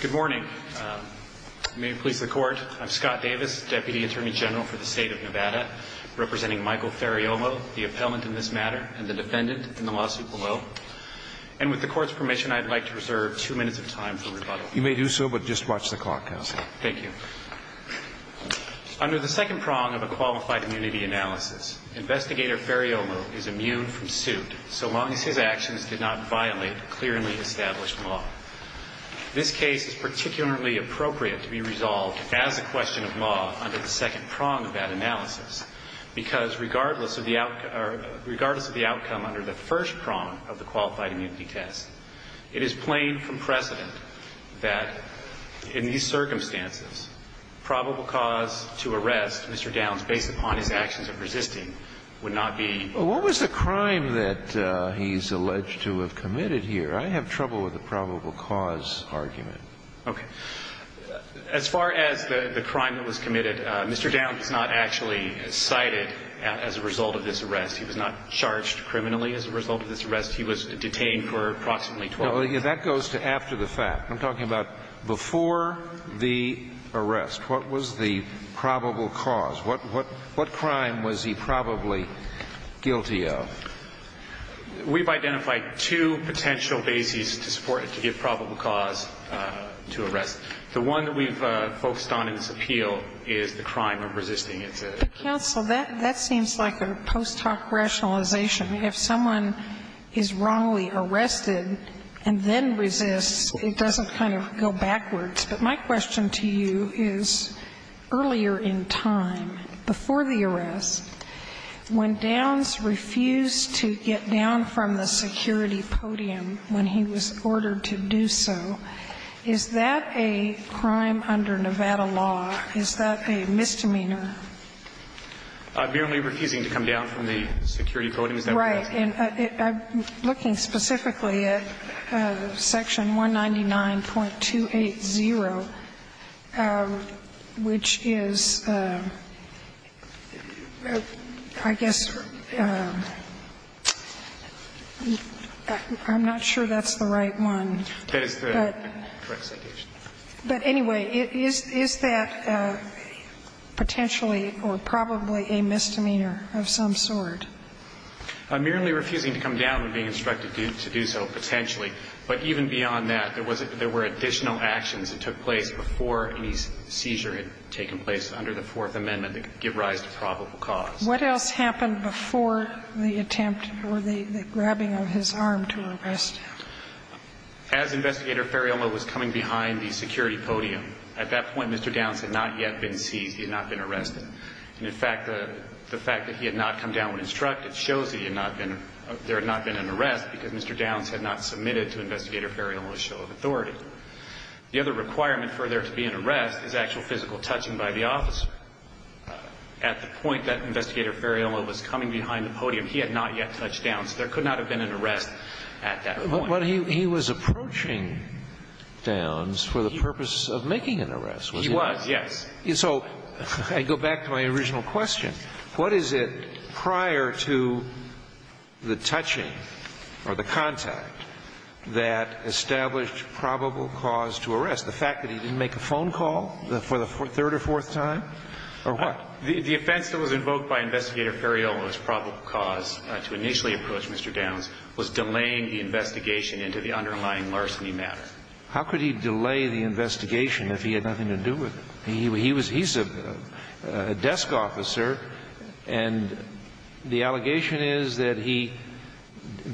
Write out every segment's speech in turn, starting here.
Good morning. May it please the Court, I'm Scott Davis, Deputy Attorney General for the State of Nevada, representing Michael Ferriolo, the appellant in this matter, and the defendant in the lawsuit below. And with the Court's permission, I'd like to reserve two minutes of time for rebuttal. You may do so, but just watch the clock, Counselor. Thank you. Under the second prong of a Qualified Immunity Analysis, Investigator Ferriolo is immune from suit so long as his actions did not violate clearly established law. This case is particularly appropriate to be resolved as a question of law under the second prong of that analysis, because regardless of the outcome under the first prong of the Qualified Immunity Test, it is plain from precedent that in these circumstances, probable cause to arrest Mr. Downs based upon his actions of resisting would not be. What was the crime that he's alleged to have committed here? I have trouble with the probable cause argument. Okay. As far as the crime that was committed, Mr. Downs was not actually cited as a result of this arrest. He was not charged criminally as a result of this arrest. He was detained for approximately 12 years. No, that goes to after the fact. I'm talking about before the arrest. What was the probable cause? What crime was he probably guilty of? We've identified two potential bases to support it, to give probable cause to arrest. The one that we've focused on in this appeal is the crime of resisting. It's a... Counsel, that seems like a post hoc rationalization. If someone is wrongly arrested and then resists, it doesn't kind of go backwards. But my question to you is, earlier in time, before the arrest, when Downs refused to get down from the security podium when he was ordered to do so, is that a crime under Nevada law? Is that a misdemeanor? I'm merely refusing to come down from the security podium. Is that what you're asking? Right. And looking specifically at section 199.280, which is, I guess, I'm not sure that's the right one. That is the correct citation. But anyway, is that potentially or probably a misdemeanor of some sort? I'm merely refusing to come down when being instructed to do so, potentially. But even beyond that, there were additional actions that took place before any seizure had taken place under the Fourth Amendment that could give rise to probable cause. What else happened before the attempt or the grabbing of his arm to arrest him? As Investigator Ferriamo was coming behind the security podium, at that point, Mr. Downs had not yet been seized. He had not been arrested. And, in fact, the fact that he had not come down when instructed shows there had not been an arrest because Mr. Downs had not submitted to Investigator Ferriamo a show of authority. The other requirement for there to be an arrest is actual physical touching by the officer. At the point that Investigator Ferriamo was coming behind the podium, he had not yet touched Downs. There could not have been an arrest at that point. But he was approaching Downs for the purpose of making an arrest, was he not? He was, yes. So I go back to my original question. What is it prior to the touching or the contact that established probable cause to arrest, the fact that he didn't make a phone call for the third or fourth time or what? The offense that was invoked by Investigator Ferriamo was probable cause to initially approach Mr. Downs was delaying the investigation into the underlying larceny matter. How could he delay the investigation if he had nothing to do with it? He's a desk officer, and the allegation is that he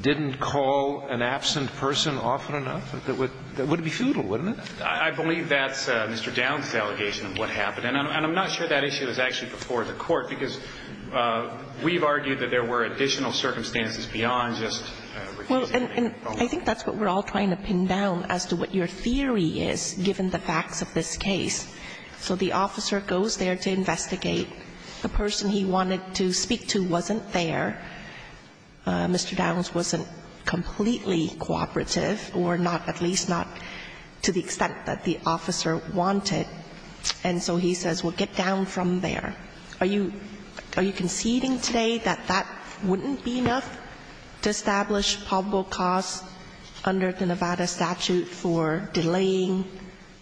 didn't call an absent person often enough? That would be futile, wouldn't it? I believe that's Mr. Downs' allegation of what happened. And I'm not sure that issue is actually before the Court because we've argued that there were additional circumstances beyond just refusing to make a phone call. Well, and I think that's what we're all trying to pin down as to what your theory is, given the facts of this case. So the officer goes there to investigate. The person he wanted to speak to wasn't there. Mr. Downs wasn't completely cooperative or not at least not to the extent that the officer wanted. And so he says, well, get down from there. Are you conceding today that that wouldn't be enough to establish probable cause under the Nevada statute for delaying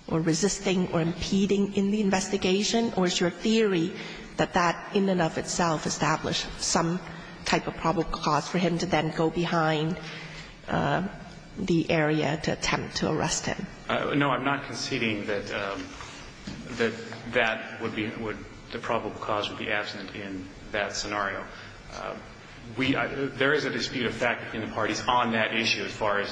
or resisting or impeding in the investigation, or is your theory that that in and of itself established some type of probable cause for him to then go behind the area to attempt to arrest him? No, I'm not conceding that that would be the probable cause would be absent in that scenario. There is a dispute of fact between the parties on that issue as far as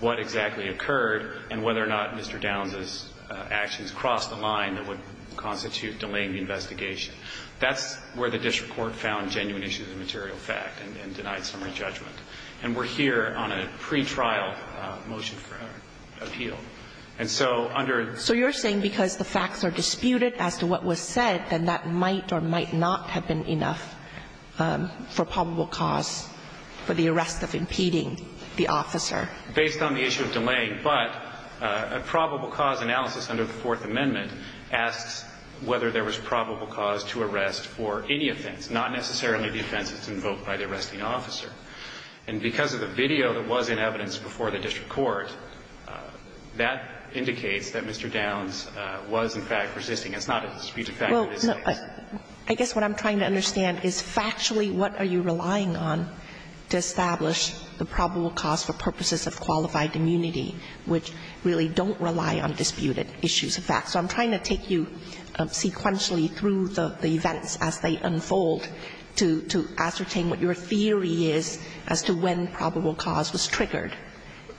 what exactly occurred and whether or not Mr. Downs' actions crossed the line that would constitute delaying the investigation. That's where the district court found genuine issues of material fact and denied summary judgment. And we're here on a pretrial motion for appeal. And so under the ---- So you're saying because the facts are disputed as to what was said, then that might or might not have been enough for probable cause for the arrest of impeding the officer. Based on the issue of delaying. But a probable cause analysis under the Fourth Amendment asks whether there was probable cause to arrest for any offense, not necessarily the offense that's invoked by the district court. And because of the video that was in evidence before the district court, that indicates that Mr. Downs was in fact resisting. It's not a dispute of fact. Well, I guess what I'm trying to understand is factually what are you relying on to establish the probable cause for purposes of qualified immunity, which really don't rely on disputed issues of fact. So I'm trying to take you sequentially through the events as they unfold to ascertain what your theory is as to when probable cause was triggered.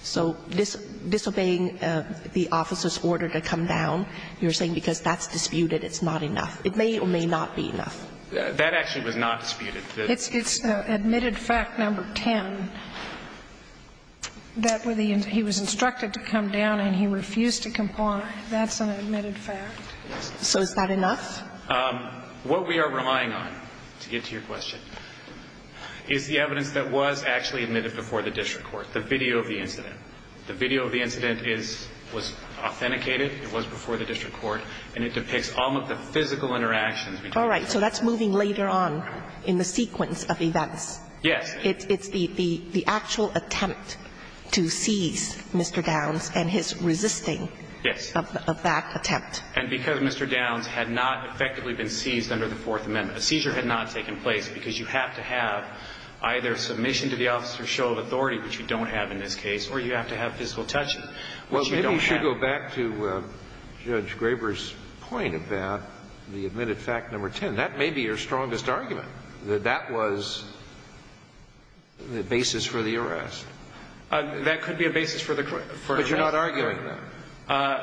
So disobeying the officer's order to come down, you're saying because that's disputed, it's not enough. It may or may not be enough. That actually was not disputed. It's admitted fact number 10, that he was instructed to come down and he refused to comply. That's an admitted fact. So is that enough? What we are relying on, to get to your question, is the evidence that was actually admitted before the district court, the video of the incident. The video of the incident was authenticated. It was before the district court. And it depicts all of the physical interactions. All right. So that's moving later on in the sequence of events. Yes. It's the actual attempt to seize Mr. Downs and his resisting of that attempt. And because Mr. Downs had not effectively been seized under the Fourth Amendment, a seizure had not taken place because you have to have either submission to the officer's show of authority, which you don't have in this case, or you have to have physical touching, which you don't have. Well, maybe we should go back to Judge Graber's point about the admitted fact number 10. That may be your strongest argument, that that was the basis for the arrest. That could be a basis for the arrest. But you're not arguing that.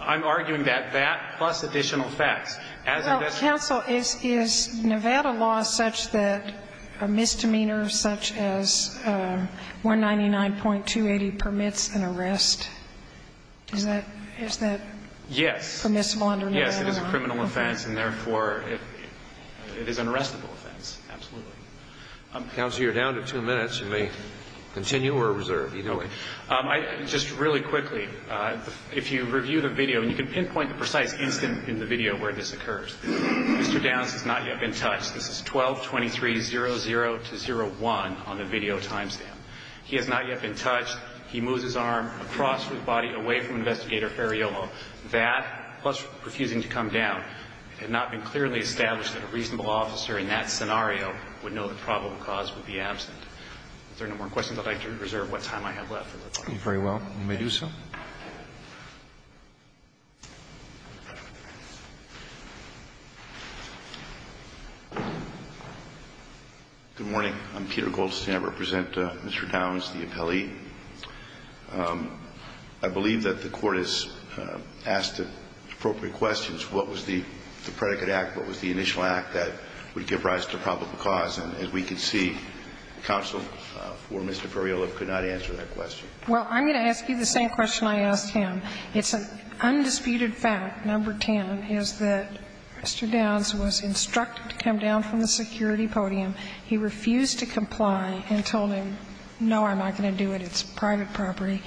I'm arguing that that, plus additional facts. Well, counsel, is Nevada law such that a misdemeanor such as 199.280 permits an arrest? Is that permissible under Nevada law? Yes. It is a criminal offense, and therefore it is an arrestable offense. Absolutely. Counsel, you're down to two minutes. You may continue or reserve. Just really quickly, if you reviewed a video, and you can pinpoint the precise instant in the video where this occurs. Mr. Downs has not yet been touched. This is 12-23-00-01 on the video time stamp. He has not yet been touched. He moves his arm across his body away from Investigator Ferraiolo. That, plus refusing to come down, had not been clearly established that a reasonable officer in that scenario would know the probable cause would be absent. If there are no more questions, I'd like to reserve what time I have left. Very well. You may do so. Good morning. I'm Peter Goldstein. I represent Mr. Downs, the appellee. I believe that the Court has asked appropriate questions. What was the predicate act? What was the initial act that would give rise to probable cause? And as we can see, counsel for Mr. Ferraiolo could not answer that question. Well, I'm going to ask you the same question I asked him. It's an undisputed fact, number 10, is that Mr. Downs was instructed to come down from the security podium. He refused to comply and told him, no, I'm not going to do it. It's private property.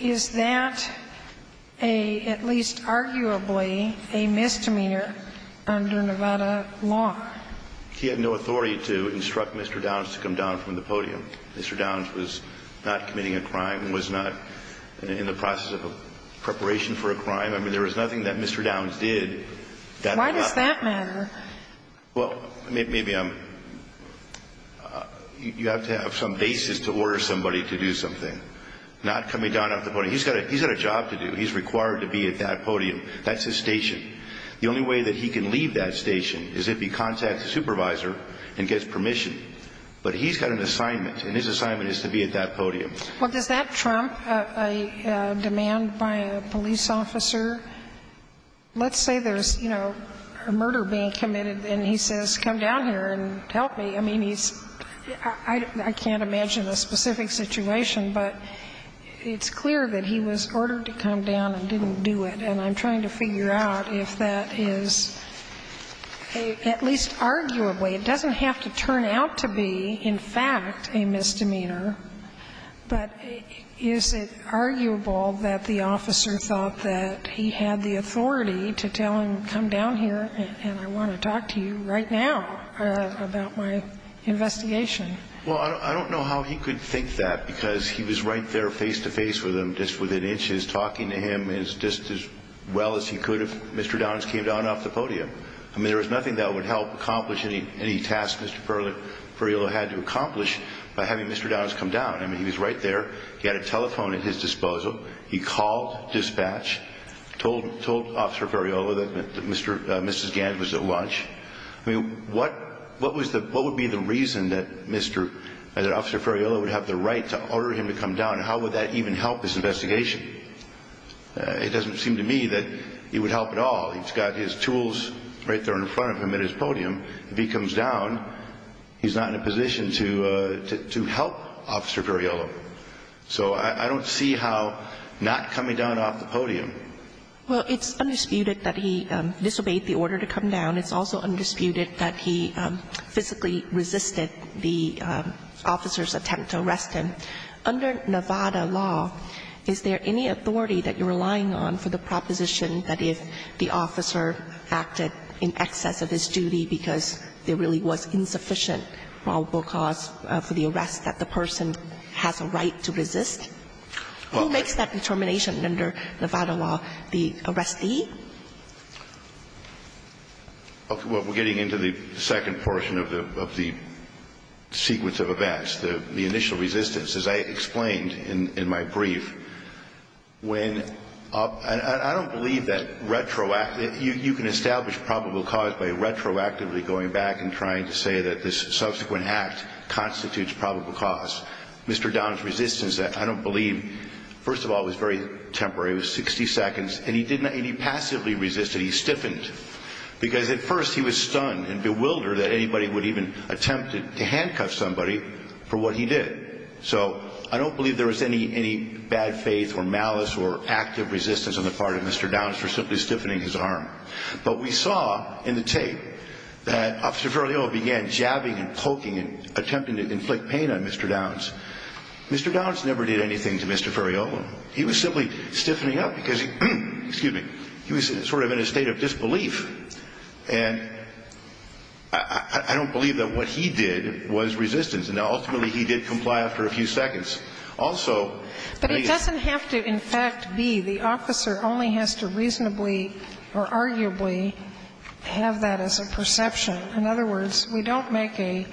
Is that a, at least arguably, a misdemeanor under Nevada law? He had no authority to instruct Mr. Downs to come down from the podium. Mr. Downs was not committing a crime, was not in the process of preparation for a crime. I mean, there was nothing that Mr. Downs did. Why does that matter? Well, maybe I'm, you have to have some basis to order somebody to do something. Not coming down off the podium. He's got a job to do. He's required to be at that podium. That's his station. The only way that he can leave that station is if he contacts a supervisor and gets permission. But he's got an assignment, and his assignment is to be at that podium. Well, does that trump a demand by a police officer? Let's say there's, you know, a murder being committed, and he says, come down here and help me. I mean, he's, I can't imagine a specific situation, but it's clear that he was ordered to come down and didn't do it. And I'm trying to figure out if that is, at least arguably, it doesn't have to turn out to be, in fact, a misdemeanor. But is it arguable that the officer thought that he had the authority to tell him, come down here and I want to talk to you right now about my investigation? Well, I don't know how he could think that, because he was right there face to face with him just within inches, talking to him just as well as he could if Mr. Downs came down off the podium. I mean, there was nothing that would help accomplish any task Mr. Ferriolo had to accomplish by having Mr. Downs come down. I mean, he was right there. He had a telephone at his disposal. He called dispatch, told Officer Ferriolo that Mrs. Gans was at lunch. I mean, what would be the reason that Mr. Ferriolo would have the right to order him to come down? How would that even help this investigation? It doesn't seem to me that it would help at all. He's got his tools right there in front of him at his podium. If he comes down, he's not in a position to help Officer Ferriolo. So I don't see how not coming down off the podium. Well, it's undisputed that he disobeyed the order to come down. It's also undisputed that he physically resisted the officer's attempt to arrest him. Under Nevada law, is there any authority that you're relying on for the proposition that if the officer acted in excess of his duty because there really was insufficient probable cause for the arrest that the person has a right to resist? Who makes that determination under Nevada law? The arrestee? Well, we're getting into the second portion of the sequence of events. The initial resistance, as I explained in my brief. I don't believe that you can establish probable cause by retroactively going back and trying to say that this subsequent act constitutes probable cause. Mr. Downs' resistance, I don't believe, first of all, was very temporary. It was 60 seconds. And he passively resisted. He stiffened. Because at first he was stunned and bewildered that anybody would even attempt to arrest him for what he did. So I don't believe there was any bad faith or malice or active resistance on the part of Mr. Downs for simply stiffening his arm. But we saw in the tape that Officer Ferriola began jabbing and poking and attempting to inflict pain on Mr. Downs. Mr. Downs never did anything to Mr. Ferriola. He was simply stiffening up because he was sort of in a state of disbelief. And I don't believe that what he did was resistance. Now, ultimately, he did comply after a few seconds. Also, maybe he did not. But it doesn't have to, in fact, be. The officer only has to reasonably or arguably have that as a perception. In other words, we don't make a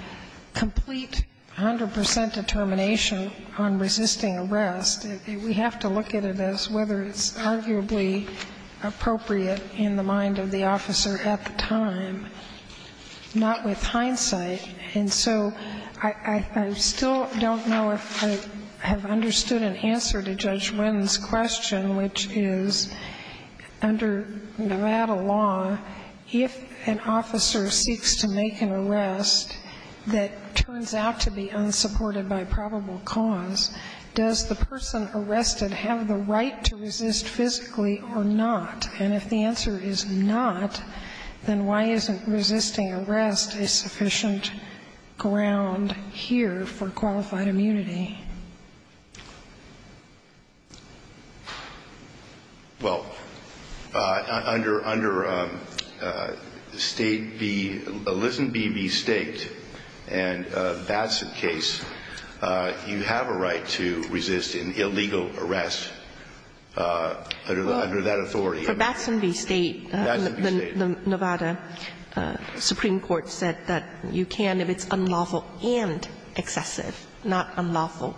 complete 100 percent determination on resisting arrest. We have to look at it as whether it's arguably appropriate in the mind of the officer at the time, not with hindsight. And so I still don't know if I have understood an answer to Judge Winn's question, which is, under Nevada law, if an officer seeks to make an arrest that turns out to be unsupported by probable cause, does the person arrested have the right to resist physically or not? And if the answer is not, then why isn't resisting arrest a sufficient ground here for qualified immunity? Well, under State v. Lisenbee v. State and Batson case, you have a right to resist an illegal arrest under that authority. For Batson v. State, the Nevada Supreme Court said that you can if it's unlawful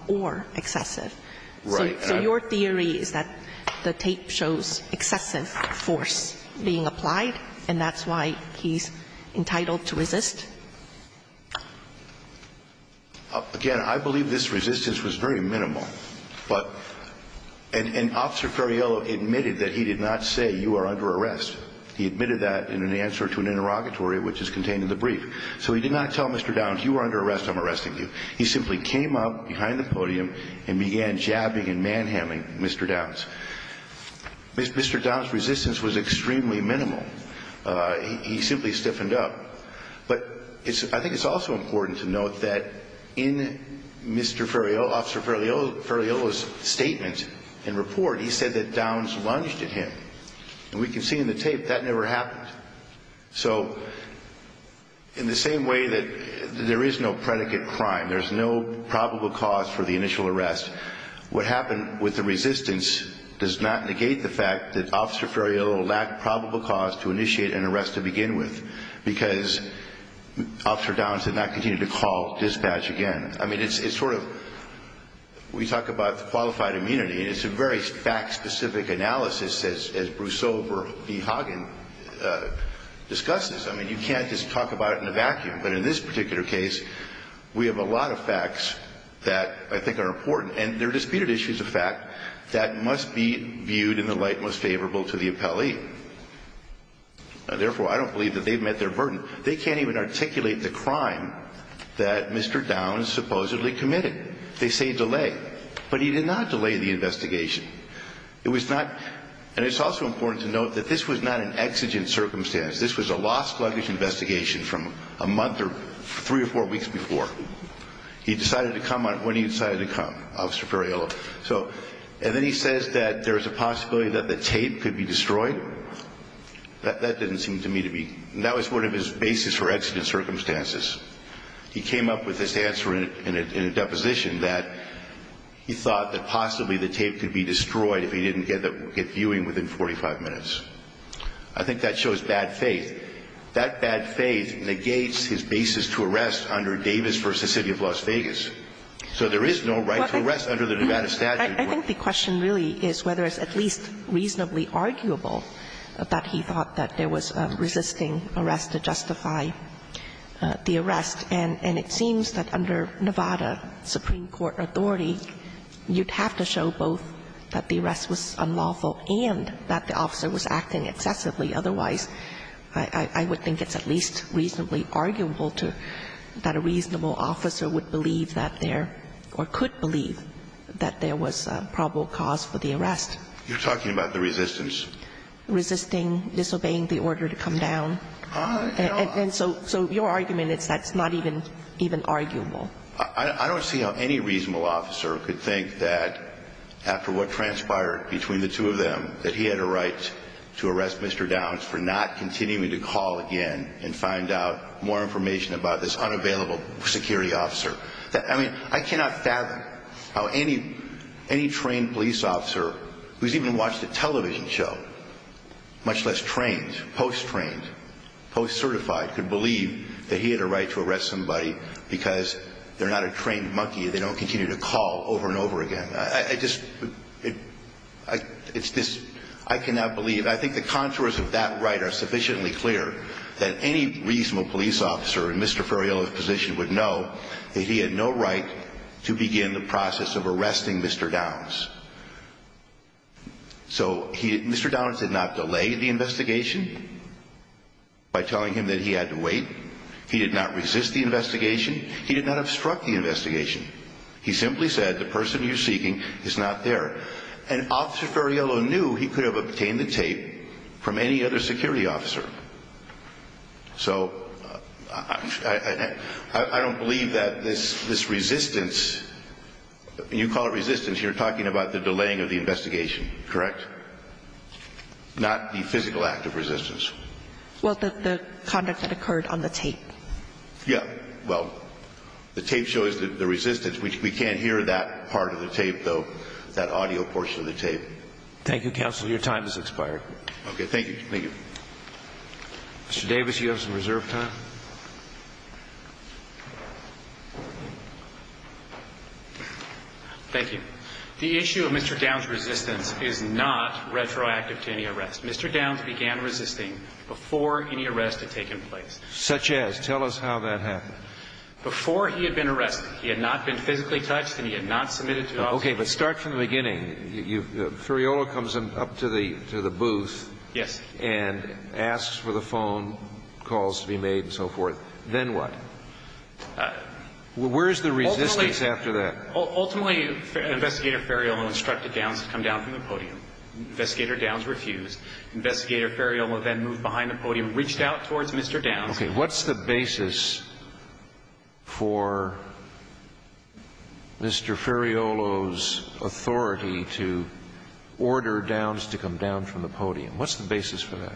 or excessive. Right. So your theory is that the tape shows excessive force being applied, and that's why he's entitled to resist? Again, I believe this resistance was very minimal. But an officer Ferriello admitted that he did not say, you are under arrest. He admitted that in an answer to an interrogatory, which is contained in the brief. So he did not tell Mr. Downs, you are under arrest, I'm arresting you. He simply came up behind the podium and began jabbing and manhandling Mr. Downs. Mr. Downs' resistance was extremely minimal. He simply stiffened up. But I think it's also important to note that in Mr. Ferriello, Officer Ferriello's statement and report, he said that Downs lunged at him. And we can see in the tape that never happened. So in the same way that there is no predicate crime, there's no probable cause for the initial arrest, what happened with the resistance does not negate the fact that Officer Ferriello lacked probable cause to initiate an arrest to begin with, because Officer Downs did not continue to call dispatch again. I mean, it's sort of, we talk about the qualified immunity, and it's a very fact-specific analysis, as Bruce Overby Hagen discusses. I mean, you can't just talk about it in a vacuum. But in this particular case, we have a lot of facts that I think are important. And they're disputed issues of fact that must be viewed in the light most favorable to the appellee. Therefore, I don't believe that they've met their burden. They can't even articulate the crime that Mr. Downs supposedly committed. They say delay. But he did not delay the investigation. It was not, and it's also important to note that this was not an exigent circumstance. This was a lost luggage investigation from a month or three or four weeks before. He decided to come on, when he decided to come, Officer Ferriello. So, and then he says that there's a possibility that the tape could be destroyed. That doesn't seem to me to be, that was sort of his basis for exigent circumstances. He came up with this answer in a deposition that he thought that possibly the tape could be destroyed if he didn't get viewing within 45 minutes. I think that shows bad faith. That bad faith negates his basis to arrest under Davis v. City of Las Vegas. So there is no right to arrest under the Nevada statute. I think the question really is whether it's at least reasonably arguable that he thought that there was resisting arrest to justify the arrest. And it seems that under Nevada supreme court authority, you'd have to show both that the arrest was unlawful and that the officer was acting excessively. Otherwise, I would think it's at least reasonably arguable to, that a reasonable officer would believe that there, or could believe that there was probable cause for the arrest. You're talking about the resistance. Resisting, disobeying the order to come down. So your argument is that's not even arguable. I don't see how any reasonable officer could think that after what transpired between the two of them, that he had a right to arrest Mr. Downs for not continuing to call again and find out more information about this unavailable security officer. I mean, I cannot fathom how any trained police officer who's even watched a television show, much less trained, post-trained, post-certified, could believe that he had a right to arrest somebody because they're not a trained monkey. They don't continue to call over and over again. I just, it's just, I cannot believe. I think the contours of that right are sufficiently clear that any reasonable police officer in Mr. Ferriello's position would know that he had no right to begin the process of arresting Mr. Downs. So Mr. Downs did not delay the investigation by telling him that he had to wait. He did not resist the investigation. He did not obstruct the investigation. He simply said, the person you're seeking is not there. And Officer Ferriello knew he could have obtained the tape from any other security officer. So I don't believe that this resistance, you call it resistance, you're talking about the delaying of the investigation, correct? Not the physical act of resistance. Well, the conduct that occurred on the tape. Yeah. Well, the tape shows the resistance. We can't hear that part of the tape, though, that audio portion of the tape. Thank you, counsel. Your time has expired. Okay. Thank you. Thank you. Mr. Davis, you have some reserve time. Thank you. The issue of Mr. Downs' resistance is not retroactive to any arrest. Mr. Downs began resisting before any arrest had taken place. Such as? Tell us how that happened. Before he had been arrested. He had not been physically touched and he had not submitted to officers. Okay. But start from the beginning. Ferriello comes up to the booth. Yes. And asks for the phone calls to be made and so forth. Then what? Where's the resistance after that? Ultimately, Investigator Ferriello instructed Downs to come down from the podium. Investigator Downs refused. Investigator Ferriello then moved behind the podium, reached out towards Mr. Downs. Okay. What's the basis for Mr. Ferriello's authority to order Downs to come down from the podium? What's the basis for that?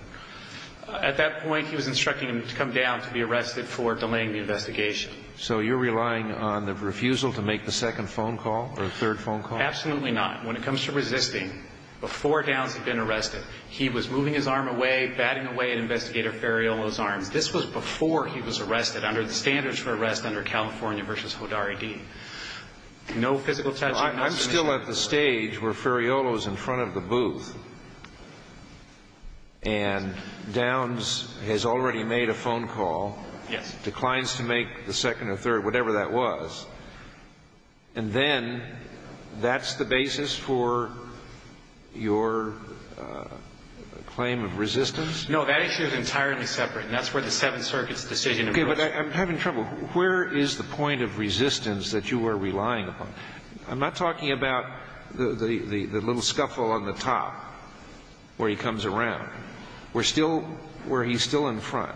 At that point, he was instructing him to come down to be arrested for delaying the investigation. So you're relying on the refusal to make the second phone call or third phone call? Absolutely not. When it comes to resisting, before Downs had been arrested, he was moving his arm away, batting away at Investigator Ferriello's arms. This was before he was arrested under the standards for arrest under California v. Hodari D. No physical touching. I'm still at the stage where Ferriello is in front of the booth. And Downs has already made a phone call. Yes. He declines to make the second or third, whatever that was. And then that's the basis for your claim of resistance? No. That issue is entirely separate. And that's where the Seventh Circuit's decision of course. Okay. But I'm having trouble. Where is the point of resistance that you are relying upon? I'm not talking about the little scuffle on the top where he comes around. We're still where he's still in front.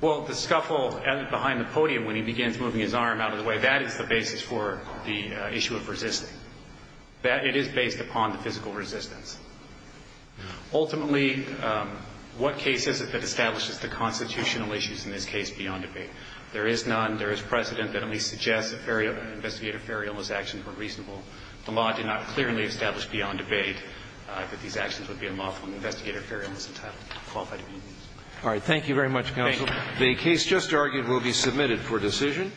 Well, the scuffle behind the podium when he begins moving his arm out of the way, that is the basis for the issue of resisting. It is based upon the physical resistance. Ultimately, what case is it that establishes the constitutional issues in this case beyond debate? There is none. There is precedent that at least suggests that Investigator Ferriello's actions were reasonable. The law did not clearly establish beyond debate that these actions would be unlawful and Investigator Ferriello is entitled to be used. All right. Thank you very much, counsel. Thank you. The case just argued will be submitted for decision.